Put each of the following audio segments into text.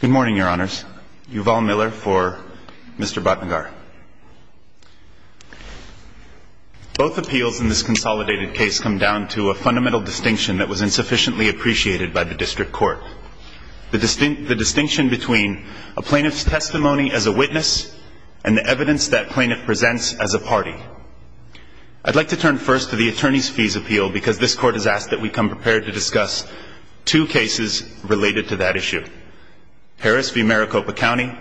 Good morning, Your Honours. Yuval Miller for Mr. Bhatnagar. Both appeals in this consolidated case come down to a fundamental distinction that was insufficiently appreciated by the District Court. The distinction between a plaintiff's testimony as a witness and the evidence that plaintiff presents as a party. I'd like to turn first to the Attorney's Fees Appeal because this Court has asked that we come prepared to discuss two cases related to that issue. Harris v. Maricopa County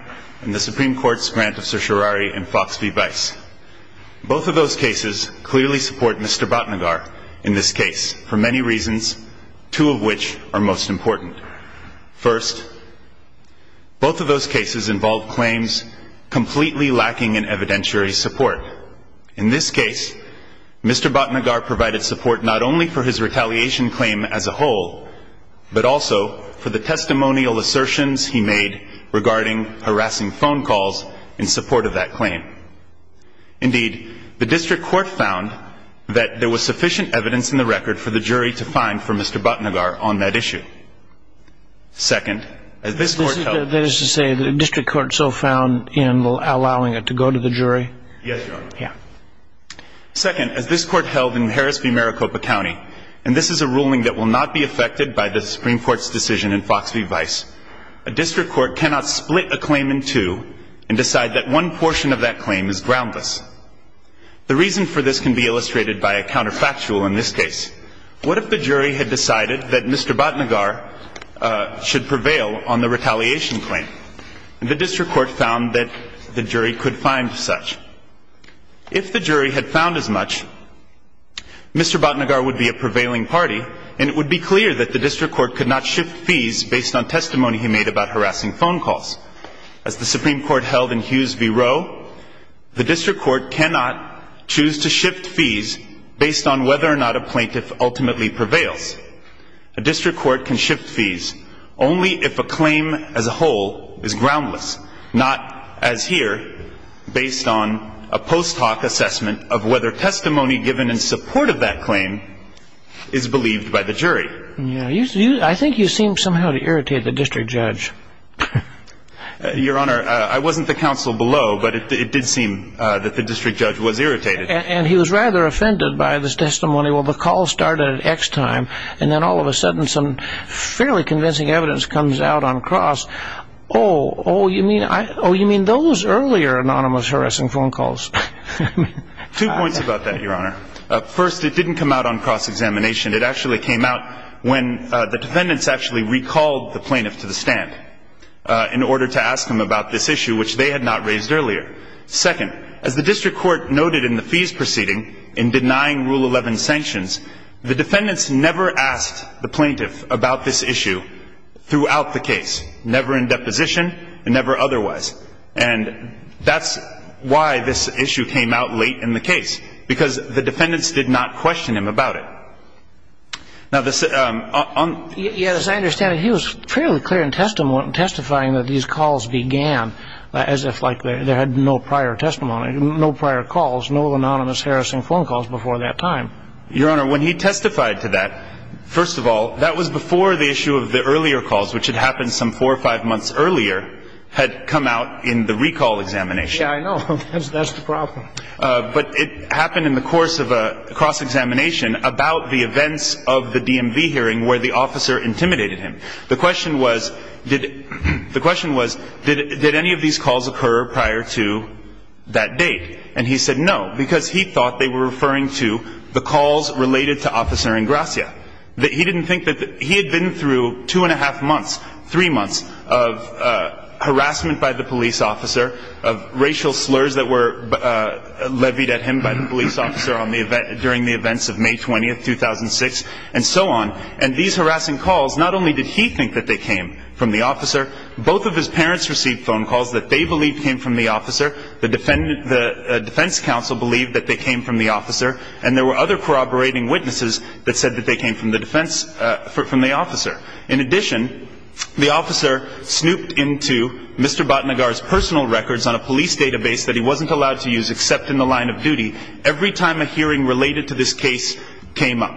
and the Supreme Court's grant of certiorari in Fox v. Vice. Both of those cases clearly support Mr. Bhatnagar in this case for many reasons, two of which are most important. First, both of those cases involve claims completely lacking in evidentiary support. In this case, Mr. Bhatnagar provided support not only for his retaliation claim as a whole, but also for the testimonial assertions he made regarding harassing phone calls in support of that claim. Indeed, the District Court found that there was sufficient evidence in the record for the jury to find for Mr. Bhatnagar on that issue. Second, as this Court held... That is to say, the District Court so found in allowing it to go to the jury? Yes, Your Honour. Yeah. Second, as this Court held in Harris v. Maricopa County, and this is a ruling that will not be affected by the Supreme Court's decision in Fox v. Vice, a District Court cannot split a claim in two and decide that one portion of that claim is groundless. The reason for this can be illustrated by a counterfactual in this case. What if the jury had decided that Mr. Bhatnagar should prevail on the retaliation claim? And the District Court found that the jury could find such. If the jury had found as much, Mr. Bhatnagar would be a prevailing party, and it would be clear that the District Court could not shift fees based on testimony he made about harassing phone calls. As the Supreme Court held in Hughes v. Rowe, the District Court cannot choose to shift fees based on whether or not a plaintiff ultimately prevails. A District Court can shift fees only if a claim as a whole is groundless, not as here, based on a post hoc assessment of whether testimony given in support of that claim is believed by the jury. I think you seem somehow to irritate the District Judge. Your Honor, I wasn't the counsel below, but it did seem that the District Judge was irritated. And he was rather offended by this testimony. Well, the call started at X time, and then all of a sudden some fairly convincing evidence comes out on cross. Oh, you mean those earlier anonymous harassing phone calls? Two points about that, Your Honor. First, it didn't come out on cross-examination. It actually came out when the defendants actually recalled the plaintiff to the stand in order to ask him about this issue, which they had not raised earlier. Second, as the District Court noted in the fees proceeding in denying Rule 11 sanctions, the defendants never asked the plaintiff about this issue throughout the case, never in deposition and never otherwise. And that's why this issue came out late in the case, because the defendants did not question him about it. Now, this un- Yes, as I understand it, he was fairly clear in testifying that these calls began as if, like, there had been no prior testimony, no prior calls, no anonymous harassing phone calls before that time. Your Honor, when he testified to that, first of all, that was before the issue of the earlier calls, which had happened some four or five months earlier, had come out in the recall examination. Yeah, I know. That's the problem. But it happened in the course of a cross-examination about the events of the DMV hearing where the officer intimidated him. The question was, did any of these calls occur prior to that date? And he said no, because he thought they were referring to the calls related to Officer Ingracia. He didn't think that the- He had been through two and a half months, three months of harassment by the police officer, of racial slurs that were levied at him by the police officer on the event- during the events of May 20, 2006, and so on. And these harassing calls, not only did he think that they came from the officer, both of his parents received phone calls that they believed came from the officer. The defense counsel believed that they came from the officer. And there were other corroborating witnesses that said that they came from the defense-from the officer. In addition, the officer snooped into Mr. Batnagar's personal records on a police database that he wasn't allowed to use except in the line of duty every time a hearing related to this case came up.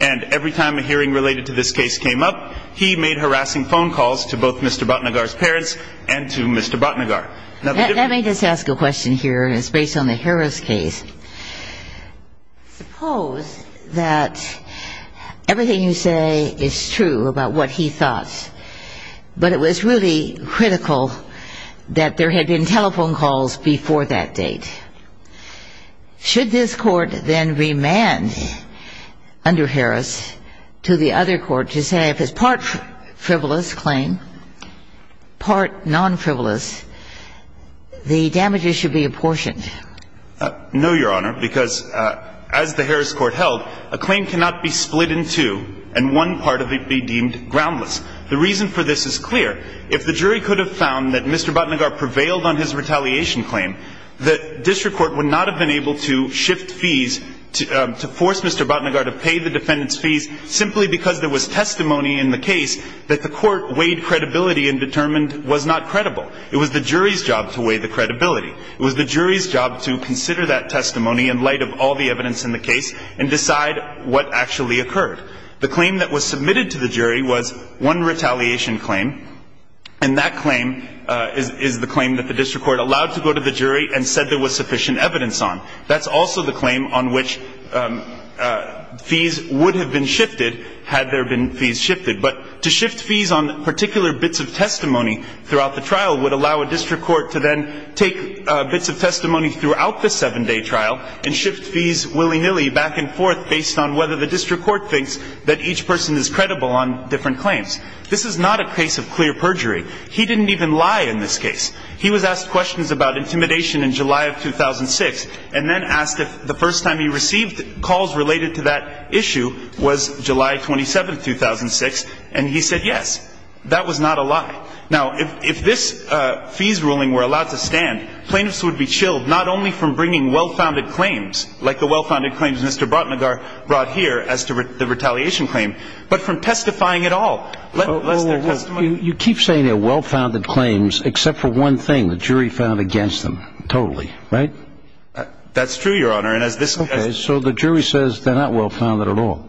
And every time a hearing related to this case came up, he made harassing phone calls to both Mr. Batnagar's parents and to Mr. Batnagar. Let me just ask a question here, and it's based on the Harris case. Suppose that everything you say is true about what he thought, but it was really critical that there had been telephone calls before that date. Should this court then remand under Harris to the other court to say if it's part frivolous claim, part non-frivolous, the damages should be apportioned? No, Your Honor, because as the Harris court held, a claim cannot be split in two and one part of it be deemed groundless. The reason for this is clear. If the jury could have found that Mr. Batnagar prevailed on his retaliation claim, the district court would not have been able to shift fees to force Mr. Batnagar to pay the defendant's fees simply because there was testimony in the case that the court weighed credibility and determined was not credible. It was the jury's job to weigh the credibility. It was the jury's job to consider that testimony in light of all the evidence in the case and decide what actually occurred. The claim that was submitted to the jury was one retaliation claim, and that claim is the claim that the district court allowed to go to the jury and said there was sufficient evidence on. That's also the claim on which fees would have been shifted had there been fees shifted. But to shift fees on particular bits of testimony throughout the trial would allow a district court to then take bits of testimony throughout the seven-day trial and shift fees willy-nilly back and forth based on whether the district court thinks that each person is credible on different claims. This is not a case of clear perjury. He didn't even lie in this case. He was asked questions about intimidation in July of 2006 and then asked if the first time he received calls related to that issue was July 27, 2006, and he said yes. That was not a lie. Now, if this fees ruling were allowed to stand, plaintiffs would be chilled not only from bringing well-founded claims, like the well-founded claims Mr. Batnagar brought here as to the retaliation claim, but from testifying at all. You keep saying they're well-founded claims except for one thing, the jury found against them totally, right? That's true, Your Honor. So the jury says they're not well-founded at all.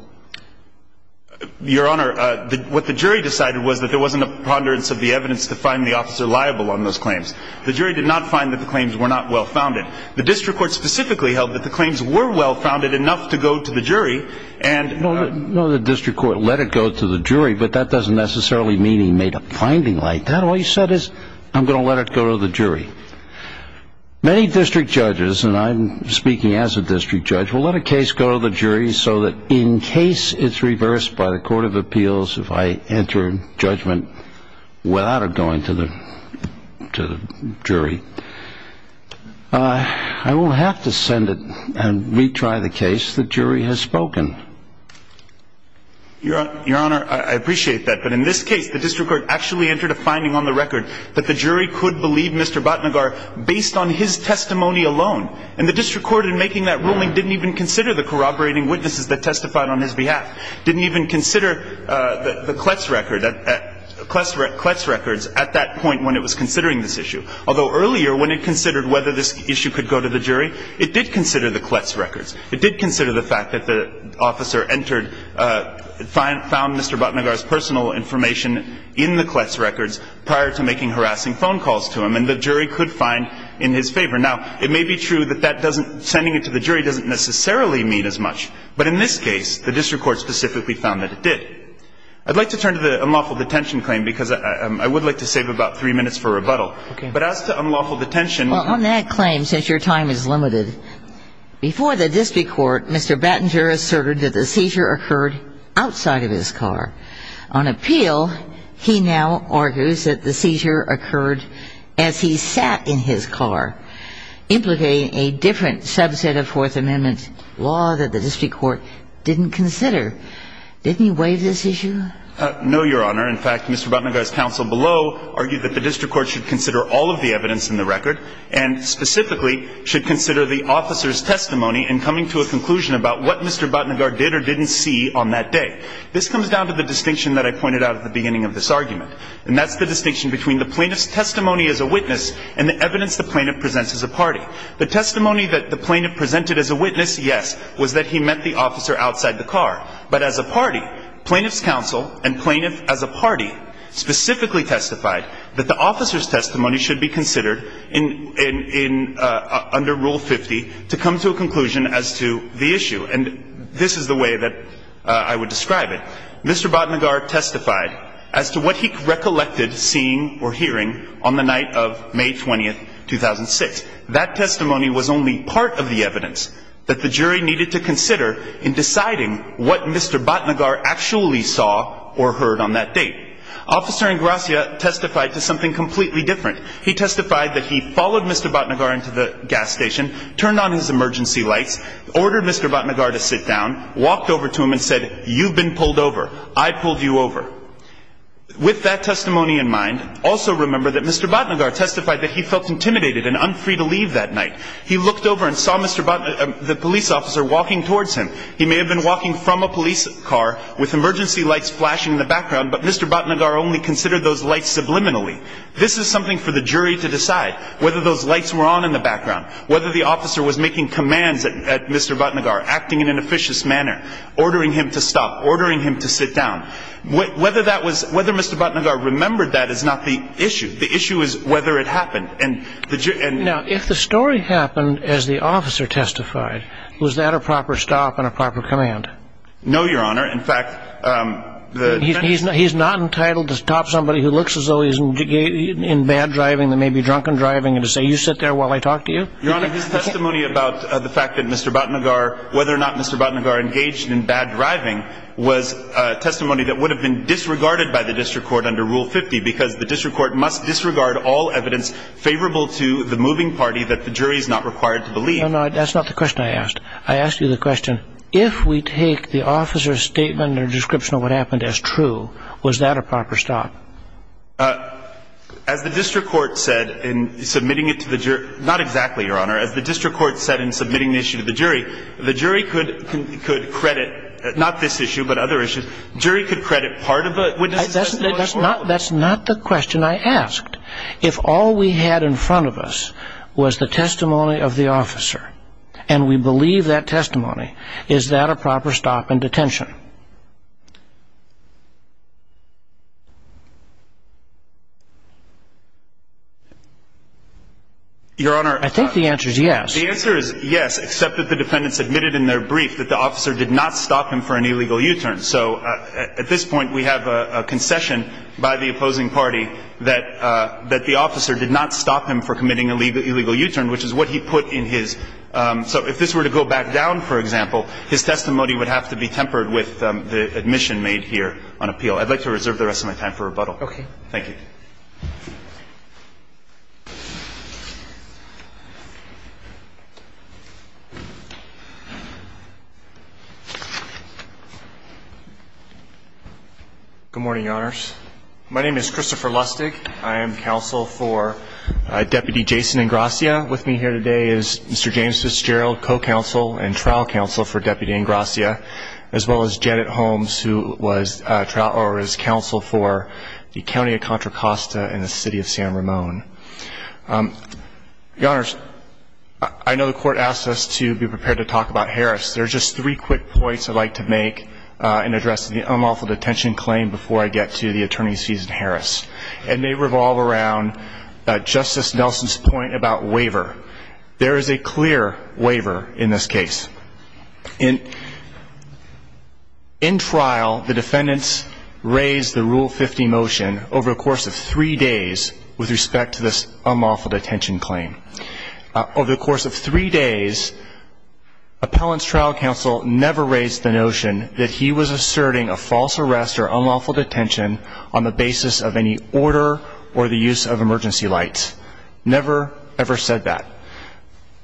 Your Honor, what the jury decided was that there wasn't a ponderance of the evidence to find the officer liable on those claims. The jury did not find that the claims were not well-founded. The district court specifically held that the claims were well-founded enough to go to the jury and No, the district court let it go to the jury, but that doesn't necessarily mean he made a finding like that. All he said is I'm going to let it go to the jury. Many district judges, and I'm speaking as a district judge, will let a case go to the jury so that in case it's reversed by the court of appeals, if I enter judgment without it going to the jury, I will have to send it and retry the case the jury has spoken. Your Honor, I appreciate that, but in this case, the district court actually entered a finding on the record that the jury could believe Mr. Batnagar based on his testimony alone, and the district court in making that ruling didn't even consider the corroborating witnesses that testified on his behalf, didn't even consider the Kletz records at that point when it was considering this issue. Although earlier when it considered whether this issue could go to the jury, it did consider the Kletz records. It did consider the fact that the officer entered, found Mr. Batnagar's personal information in the Kletz records prior to making harassing phone calls to him, and the jury could find in his favor. Now, it may be true that that doesn't, sending it to the jury doesn't necessarily mean as much, but in this case, the district court specifically found that it did. I'd like to turn to the unlawful detention claim because I would like to save about three minutes for rebuttal. But as to unlawful detention ---- Well, on that claim, since your time is limited, before the district court, Mr. Batnagar asserted that the seizure occurred outside of his car. On appeal, he now argues that the seizure occurred as he sat in his car, implicating a different subset of Fourth Amendment law that the district court didn't consider. Didn't he waive this issue? No, Your Honor. In fact, Mr. Batnagar's counsel below argued that the district court should consider all of the evidence in the record and specifically should consider the officer's testimony in coming to a conclusion about what Mr. Batnagar did or didn't see on that day. This comes down to the distinction that I pointed out at the beginning of this argument, and that's the distinction between the plaintiff's testimony as a witness and the evidence the plaintiff presents as a party. The testimony that the plaintiff presented as a witness, yes, was that he met the officer outside the car. But as a party, plaintiff's counsel and plaintiff as a party specifically testified that the officer's testimony should be considered under Rule 50 to come to a conclusion as to the issue. And this is the way that I would describe it. Mr. Batnagar testified as to what he recollected seeing or hearing on the night of May 20, 2006. That testimony was only part of the evidence that the jury needed to consider in deciding what Mr. Batnagar actually saw or heard on that date. Officer Ingracia testified to something completely different. He testified that he followed Mr. Batnagar into the gas station, turned on his emergency lights, ordered Mr. Batnagar to sit down, walked over to him and said, you've been pulled over, I pulled you over. With that testimony in mind, also remember that Mr. Batnagar testified that he felt intimidated and unfree to leave that night. He looked over and saw the police officer walking towards him. He may have been walking from a police car with emergency lights flashing in the background, but Mr. Batnagar only considered those lights subliminally. This is something for the jury to decide, whether those lights were on in the background, whether the officer was making commands at Mr. Batnagar, acting in an officious manner, ordering him to stop, ordering him to sit down. Whether Mr. Batnagar remembered that is not the issue. The issue is whether it happened. Now, if the story happened as the officer testified, was that a proper stop and a proper command? No, Your Honor. In fact, the defense... He's not entitled to stop somebody who looks as though he's in bad driving, that may be drunken driving, and to say, you sit there while I talk to you? Your Honor, his testimony about the fact that Mr. Batnagar, whether or not Mr. Batnagar engaged in bad driving, was testimony that would have been disregarded by the district court under Rule 50, because the district court must disregard all evidence favorable to the moving party that the jury is not required to believe. No, no, that's not the question I asked. I asked you the question, if we take the officer's statement or description of what happened as true, was that a proper stop? As the district court said in submitting it to the jury... Not exactly, Your Honor. As the district court said in submitting the issue to the jury, the jury could credit, not this issue, but other issues, jury could credit part of a witness's testimony to the court. That's not the question I asked. If all we had in front of us was the testimony of the officer, and we believe that testimony, is that a proper stop in detention? Your Honor... I think the answer is yes. The answer is yes, except that the defendants admitted in their brief that the officer did not stop him for an illegal U-turn. So at this point, we have a concession by the opposing party that the officer did not stop him for committing an illegal U-turn, which is what he put in his... So if this were to go back down, for example, his testimony would have to be tempered with the admission made here on appeal. I'd like to reserve the rest of my time for rebuttal. Okay. Thank you. Good morning, Your Honors. My name is Christopher Lustig. I am counsel for Deputy Jason Ingrassia. With me here today is Mr. James Fitzgerald, co-counsel and trial counsel for Deputy Ingrassia, as well as Janet Holmes, who was counsel for the County of Contra Costa and the City of San Ramon. Your Honors, I know the court asked us to be prepared to talk about Harris. There are just three quick points I'd like to make in addressing the unlawful detention claim before I get to the attorney's fees at Harris. It may revolve around Justice Nelson's point about waiver. There is a clear waiver in this case. In trial, the defendants raised the Rule 50 motion over a course of three days with respect to this unlawful detention claim. Over the course of three days, appellant's trial counsel never raised the notion that he was asserting a false arrest or unlawful detention on the basis of any order or the use of emergency lights. Never, ever said that.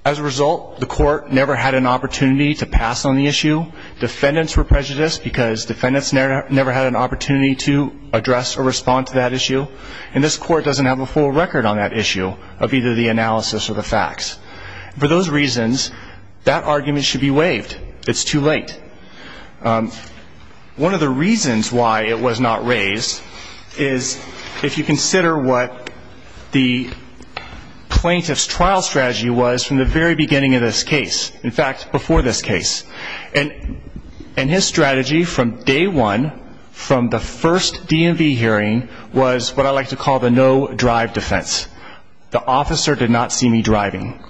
As a result, the court never had an opportunity to pass on the issue. Defendants were prejudiced because defendants never had an opportunity to address or respond to that issue. And this court doesn't have a full record on that issue of either the analysis or the facts. For those reasons, that argument should be waived. It's too late. One of the reasons why it was not raised is if you consider what the plaintiff's trial strategy was from the very beginning of this case, in fact, before this case. And his strategy from day one, from the first DMV hearing, was what I like to call the no-drive defense. The officer did not see me driving.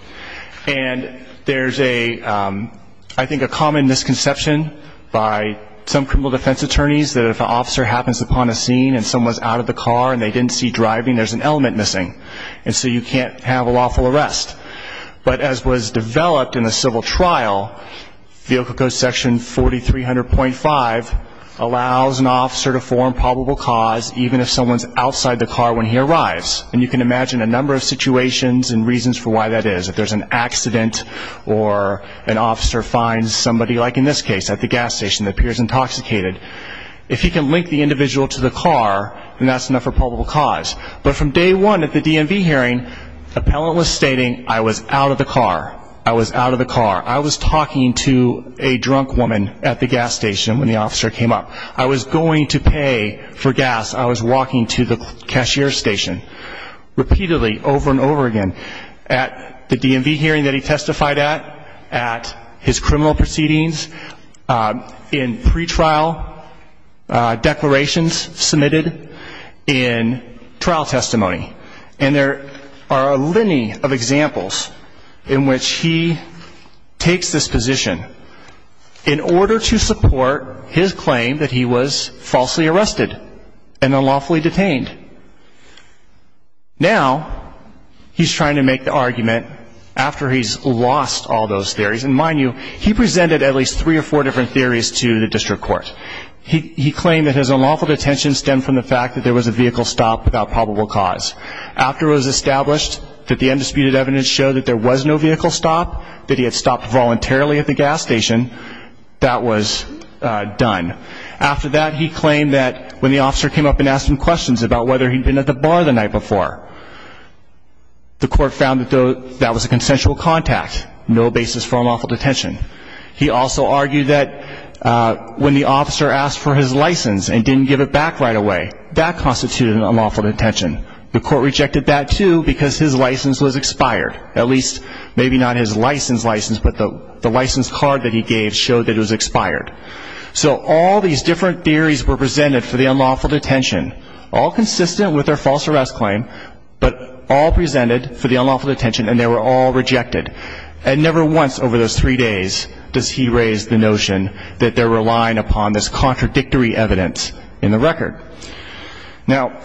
And there's a, I think, a common misconception by some criminal defense attorneys that if an officer happens upon a scene and someone's out of the car and they didn't see driving, there's an element missing. And so you can't have a lawful arrest. But as was developed in the civil trial, vehicle code section 4300.5 allows an officer to form probable cause even if someone's outside the car when he arrives. And you can imagine a number of situations and reasons for why that is. If there's an accident or an officer finds somebody, like in this case, at the gas station that appears intoxicated, if he can link the individual to the car, then that's enough for probable cause. But from day one at the DMV hearing, appellant was stating, I was out of the car. I was out of the car. I was talking to a drunk woman at the gas station when the officer came up. I was going to pay for gas. I was walking to the cashier station. Repeatedly, over and over again, at the DMV hearing that he testified at, at his criminal proceedings, in pretrial declarations submitted, in trial testimony. And there are a line of examples in which he takes this position in order to support his claim that he was falsely arrested and unlawfully detained. Now, he's trying to make the argument after he's lost all those theories. And mind you, he presented at least three or four different theories to the district court. He claimed that his unlawful detention stemmed from the fact that there was a vehicle stop without probable cause. After it was established that the undisputed evidence showed that there was no vehicle stop, that he had stopped voluntarily at the gas station, that was done. After that, he claimed that when the officer came up and asked him questions about whether he'd been at the bar the night before, the court found that that was a consensual contact, no basis for unlawful detention. He also argued that when the officer asked for his license and didn't give it back right away, that constituted an unlawful detention. The court rejected that, too, because his license was expired. At least, maybe not his license license, but the license card that he gave showed that it was expired. So all these different theories were presented for the unlawful detention, all consistent with their false arrest claim, but all presented for the unlawful detention and they were all rejected. And never once over those three days does he raise the notion that they're relying upon this contradictory evidence in the record. Now,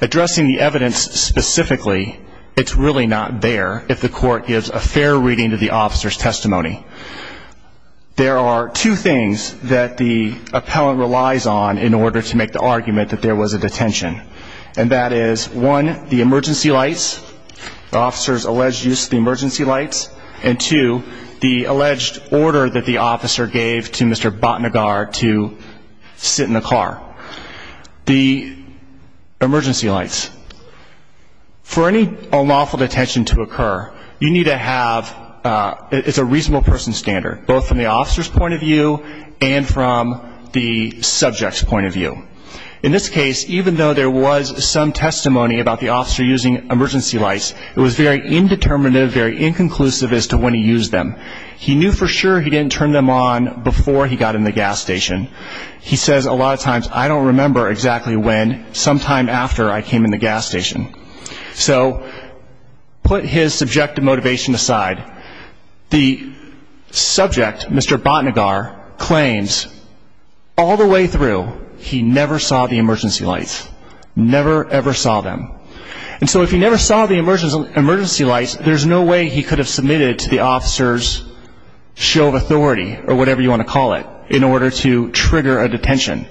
addressing the evidence specifically, it's really not there if the court gives a fair reading to the officer's testimony. There are two things that the appellant relies on in order to make the argument that there was a detention, and that is, one, the emergency lights, the officer's alleged use of the emergency lights, and two, the alleged order that the officer gave to Mr. Bhatnagar to sit in the car. The emergency lights. For any unlawful detention to occur, you need to have, it's a reasonable person standard, both from the officer's point of view and from the subject's point of view. In this case, even though there was some testimony about the officer using emergency lights, it was very indeterminate, very inconclusive as to when he used them. He knew for sure he didn't turn them on before he got in the gas station. He says a lot of times, I don't remember exactly when, sometime after I came in the gas station. So put his subjective motivation aside, the subject, Mr. Bhatnagar, claims all the way through he never saw the emergency lights, never, ever saw them. And so if he never saw the emergency lights, there's no way he could have submitted to the officer's show of authority or whatever you want to call it in order to trigger a detention.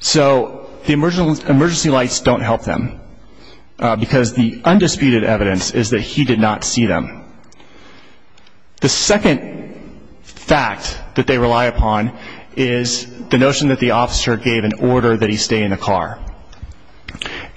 So the emergency lights don't help them because the undisputed evidence is that he did not see them. The second fact that they rely upon is the notion that the officer gave an order that he stay in the car.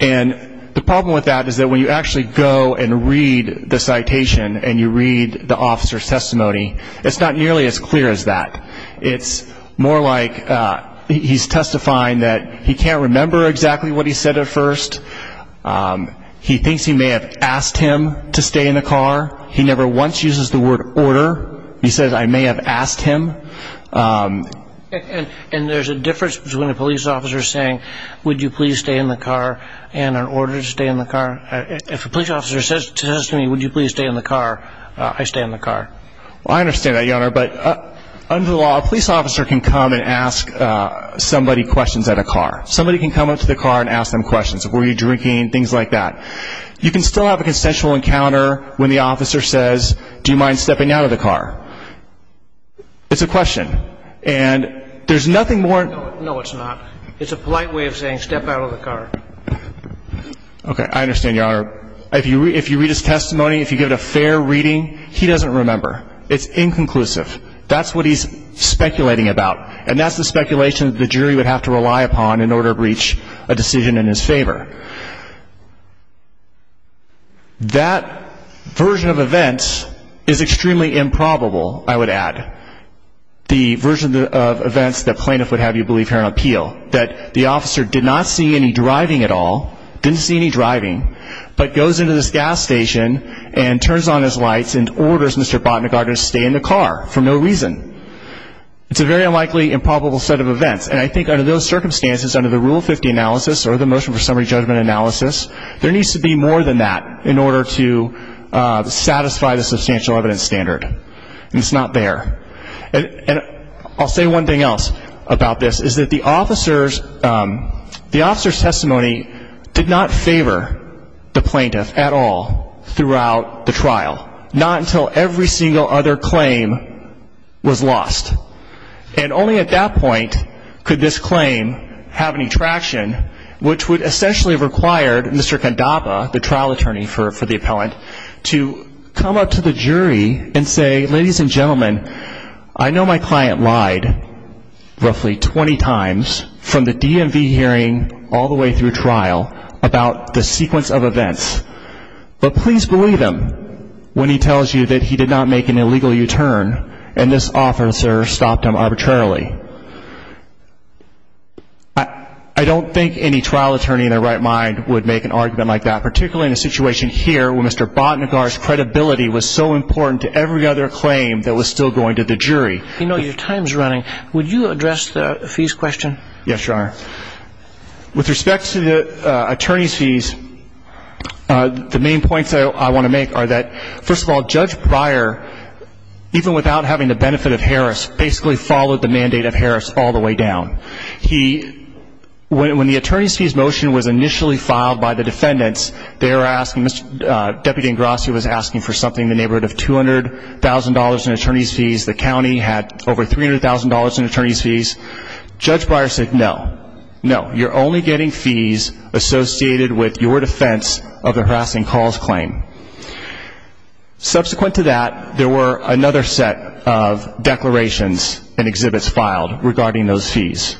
And the problem with that is that when you actually go and read the citation and you read the officer's testimony, it's not nearly as clear as that. It's more like he's testifying that he can't remember exactly what he said at first. He thinks he may have asked him to stay in the car. He never once uses the word order. He says, I may have asked him. And there's a difference between a police officer saying, would you please stay in the car and an order to stay in the car? If a police officer says to me, would you please stay in the car, I stay in the car. Well, I understand that, Your Honor. But under the law, a police officer can come and ask somebody questions at a car. Somebody can come up to the car and ask them questions. Were you drinking? Things like that. You can still have a consensual encounter when the officer says, do you mind stepping out of the car? It's a question. And there's nothing more. No, it's not. It's a polite way of saying step out of the car. Okay. I understand, Your Honor. If you read his testimony, if you give it a fair reading, he doesn't remember. It's inconclusive. That's what he's speculating about. And that's the speculation that the jury would have to rely upon in order to reach a decision in his favor. That version of events is extremely improbable, I would add. The version of events that plaintiff would have you believe here on appeal, that the officer did not see any driving at all, didn't see any driving, but goes into this gas station and turns on his lights and orders Mr. Botnagar to stay in the car for no reason. It's a very unlikely improbable set of events. And I think under those circumstances, under the Rule 50 analysis or the Motion for Summary Judgment analysis, there needs to be more than that in order to satisfy the substantial evidence standard. And it's not there. And I'll say one thing else about this, is that the officer's testimony did not favor the plaintiff at all throughout the trial. Not until every single other claim was lost. And only at that point could this claim have any traction, which would essentially have required Mr. Candapa, the trial attorney for the appellant, to come up to the jury and say, ladies and gentlemen, I know my client lied roughly 20 times, from the DMV hearing all the way through trial, about the sequence of events. But please believe him when he tells you that he did not make an illegal U-turn and this officer stopped him arbitrarily. I don't think any trial attorney in their right mind would make an argument like that, particularly in a situation here where Mr. Botnagar's credibility was so important to every other claim that was still going to the jury. You know, your time's running. Yes, Your Honor. With respect to the attorney's fees, the main points I want to make are that, first of all, Judge Breyer, even without having the benefit of Harris, basically followed the mandate of Harris all the way down. He, when the attorney's fees motion was initially filed by the defendants, they were asking, Deputy Ingrassi was asking for something in the neighborhood of $200,000 in attorney's fees. The county had over $300,000 in attorney's fees. Judge Breyer said, No. No, you're only getting fees associated with your defense of the harassing calls claim. Subsequent to that, there were another set of declarations and exhibits filed regarding those fees.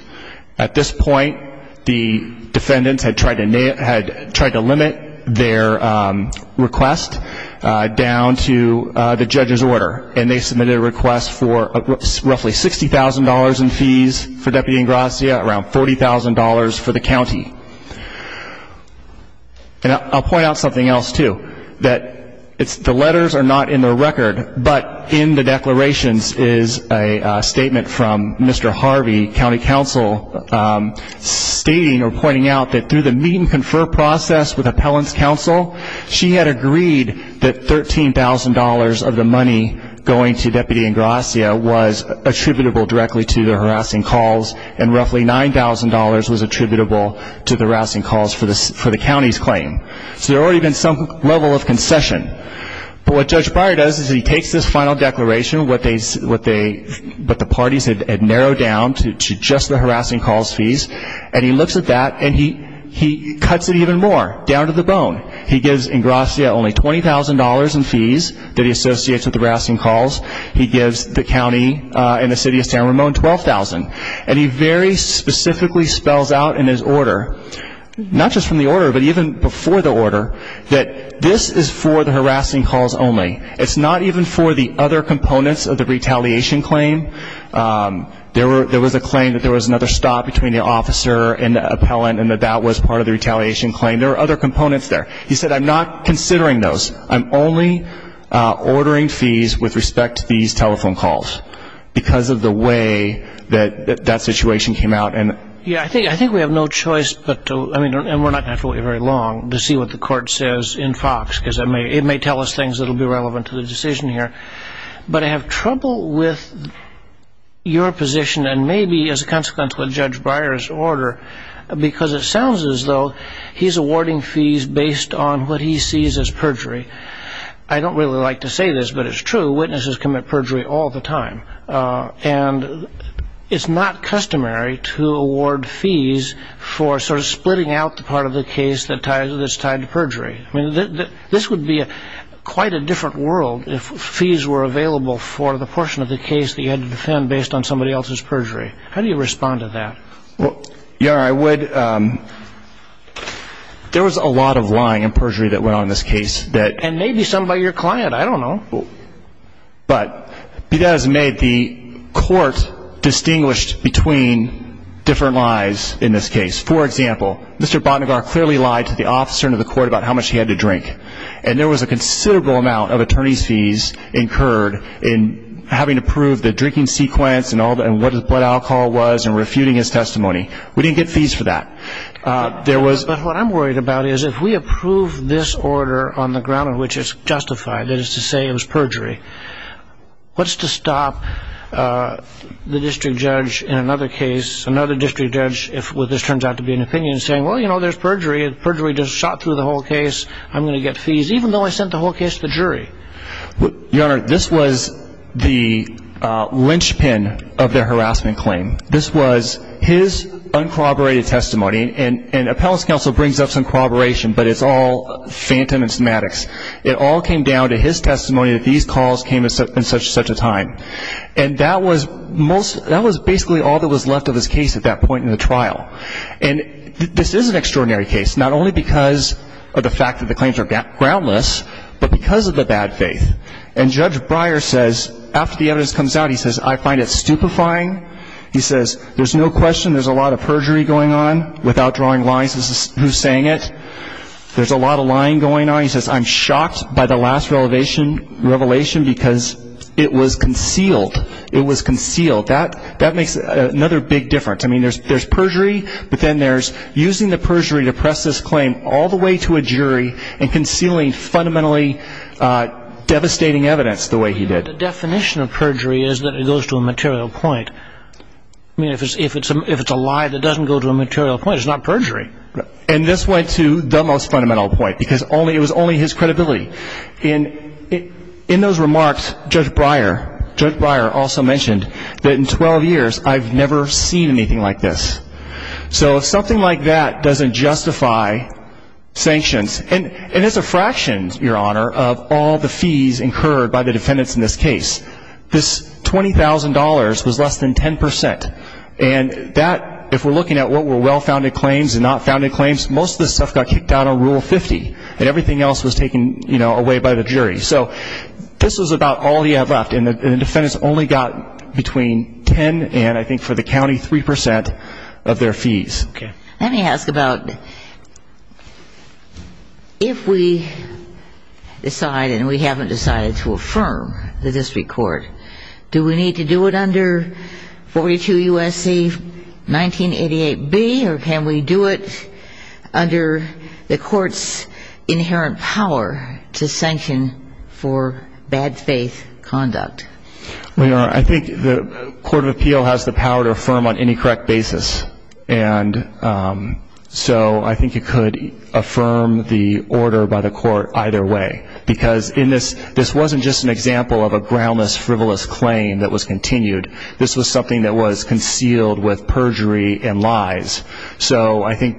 At this point, the defendants had tried to limit their request down to the judge's order, and they submitted a request for roughly $60,000 in fees for Deputy Ingrassi, around $40,000 for the county. And I'll point out something else, too, that the letters are not in the record, but in the declarations is a statement from Mr. Harvey, county counsel, stating or pointing out that process with appellant's counsel, she had agreed that $13,000 of the money going to Deputy Ingrassi was attributable directly to the harassing calls, and roughly $9,000 was attributable to the harassing calls for the county's claim. So there had already been some level of concession. But what Judge Breyer does is he takes this final declaration, what the parties had narrowed down to just the harassing calls fees, and he looks at that and he cuts it even more, down to the bone. He gives Ingrassi only $20,000 in fees that he associates with harassing calls. He gives the county and the city of San Ramon $12,000. And he very specifically spells out in his order, not just from the order, but even before the order, that this is for the harassing calls only. It's not even for the other components of the retaliation claim. There was a claim that there was another stop between the officer and the appellant and that that was part of the retaliation claim. There were other components there. He said, I'm not considering those. I'm only ordering fees with respect to these telephone calls because of the way that that situation came out. And we're not going to have to wait very long to see what the court says in Fox, because it may tell us things that will be relevant to the decision here. But I have trouble with your position, and maybe as a consequence with Judge Breyer's order, because it sounds as though he's awarding fees based on what he sees as perjury. I don't really like to say this, but it's true. Witnesses commit perjury all the time. And it's not customary to award fees for sort of splitting out the part of the case that's tied to perjury. I mean, this would be quite a different world if fees were available for the portion of the case that you had to defend based on somebody else's perjury. How do you respond to that? Well, Your Honor, I would. There was a lot of lying and perjury that went on in this case. And maybe some by your client. I don't know. But be that as it may, the court distinguished between different lies in this case. For example, Mr. Botnagar clearly lied to the officer and to the court about how much he had to drink. And there was a considerable amount of attorney's fees incurred in having to prove the drinking sequence and what alcohol was and refuting his testimony. We didn't get fees for that. But what I'm worried about is if we approve this order on the ground in which it's justified, that is to say it was perjury, what's to stop the district judge in another case, if this turns out to be an opinion, saying, well, you know, there's perjury. Perjury just shot through the whole case. I'm going to get fees, even though I sent the whole case to the jury. Your Honor, this was the linchpin of their harassment claim. This was his uncorroborated testimony. And appellate's counsel brings up some corroboration, but it's all phantom and semantics. It all came down to his testimony that these calls came in such and such a time. And that was basically all that was left of his case at that point in the trial. And this is an extraordinary case, not only because of the fact that the claims are groundless, but because of the bad faith. And Judge Breyer says, after the evidence comes out, he says, I find it stupefying. He says, there's no question there's a lot of perjury going on, without drawing lines, who's saying it. There's a lot of lying going on. And then he says, I'm shocked by the last revelation because it was concealed. It was concealed. That makes another big difference. I mean, there's perjury, but then there's using the perjury to press this claim all the way to a jury and concealing fundamentally devastating evidence the way he did. The definition of perjury is that it goes to a material point. I mean, if it's a lie that doesn't go to a material point, it's not perjury. And this went to the most fundamental point, because it was only his credibility. And in those remarks, Judge Breyer also mentioned that in 12 years, I've never seen anything like this. So something like that doesn't justify sanctions. And it's a fraction, Your Honor, of all the fees incurred by the defendants in this case. This $20,000 was less than 10%. And that, if we're looking at what were well-founded claims and not-founded claims, most of this stuff got kicked out on Rule 50, and everything else was taken, you know, away by the jury. So this was about all he had left, and the defendants only got between 10 and I think for the county, 3% of their fees. Okay. Let me ask about if we decide and we haven't decided to affirm the district court, do we need to do it under 42 U.S.C. 1988B, or can we do it under the court's inherent power to sanction for bad faith conduct? Well, Your Honor, I think the court of appeal has the power to affirm on any correct basis. And so I think you could affirm the order by the court either way, because in this, this wasn't just an example of a groundless, frivolous claim that was continued. This was something that was concealed with perjury and lies. So I think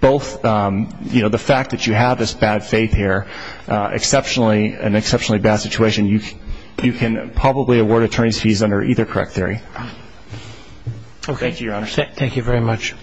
both, you know, the fact that you have this bad faith here, exceptionally, an exceptionally bad situation, you can probably award attorney's fees under either correct theory. Okay. Thank you, Your Honor. Thank you very much.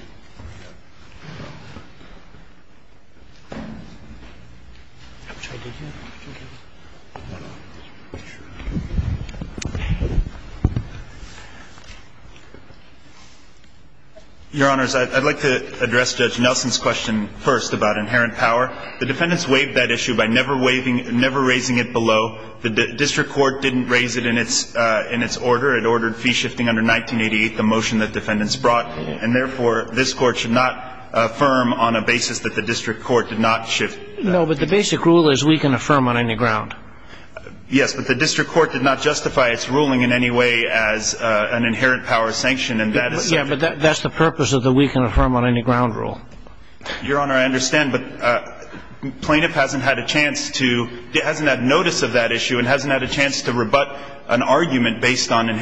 Your Honors, I'd like to address Judge Nelson's question first about inherent power. The defendants waived that issue by never raising it below. The district court didn't raise it in its order. It ordered fee shifting under 1988, the motion that defendants brought. And therefore, this court should not affirm on a basis that the district court did not shift. No, but the basic rule is we can affirm on any ground. Yes, but the district court did not justify its ruling in any way as an inherent power sanction. Yeah, but that's the purpose of the we can affirm on any ground rule. Your Honor, I understand. But plaintiff hasn't had a chance to, hasn't had notice of that issue and hasn't had a chance to rebut an argument based on the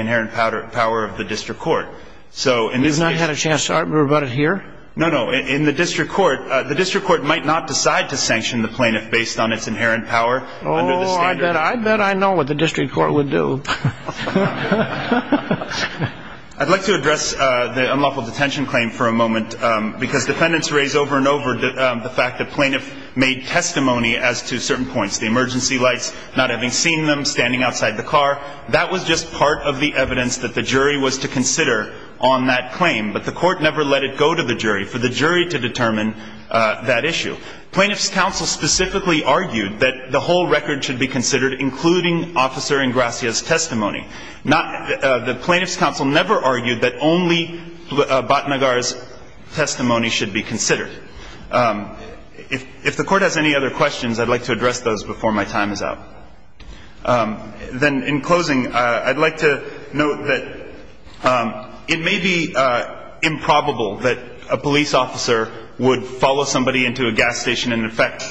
inherent power of the district court. He's not had a chance to rebut it here? No, no. In the district court, the district court might not decide to sanction the plaintiff based on its inherent power. Oh, I bet I know what the district court would do. I'd like to address the unlawful detention claim for a moment because defendants raise over and over the fact that plaintiff made testimony as to certain points. The emergency lights, not having seen them, standing outside the car, that was just part of the evidence that the jury was to consider on that claim. But the court never let it go to the jury for the jury to determine that issue. Plaintiff's counsel specifically argued that the whole record should be considered, including Officer Ingracia's testimony. The plaintiff's counsel never argued that only Batnagar's testimony should be considered. If the court has any other questions, I'd like to address those before my time is up. Then in closing, I'd like to note that it may be improbable that a police officer would follow somebody into a gas station and effect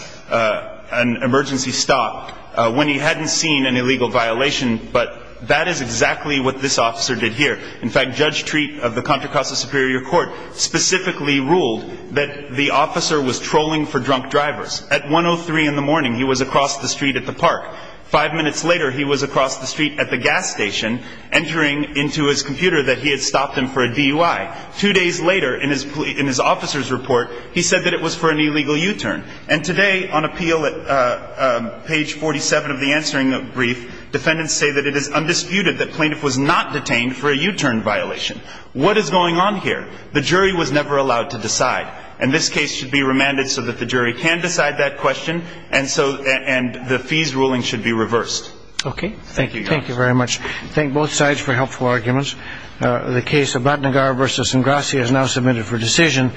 an emergency stop when he hadn't seen an illegal violation, but that is exactly what this officer did here. In fact, Judge Treat of the Contra Costa Superior Court specifically ruled that the officer was trolling for drunk drivers. At 1.03 in the morning, he was across the street at the park. Five minutes later, he was across the street at the gas station, entering into his computer that he had stopped him for a DUI. Two days later, in his officer's report, he said that it was for an illegal U-turn. And today, on appeal at page 47 of the answering brief, defendants say that it is undisputed that the plaintiff was not detained for a U-turn violation. What is going on here? The jury was never allowed to decide. And this case should be remanded so that the jury can decide that question, and the fees ruling should be reversed. Thank you very much. Thank both sides for helpful arguments. The case of Batnagar v. Ingracia is now submitted for decision.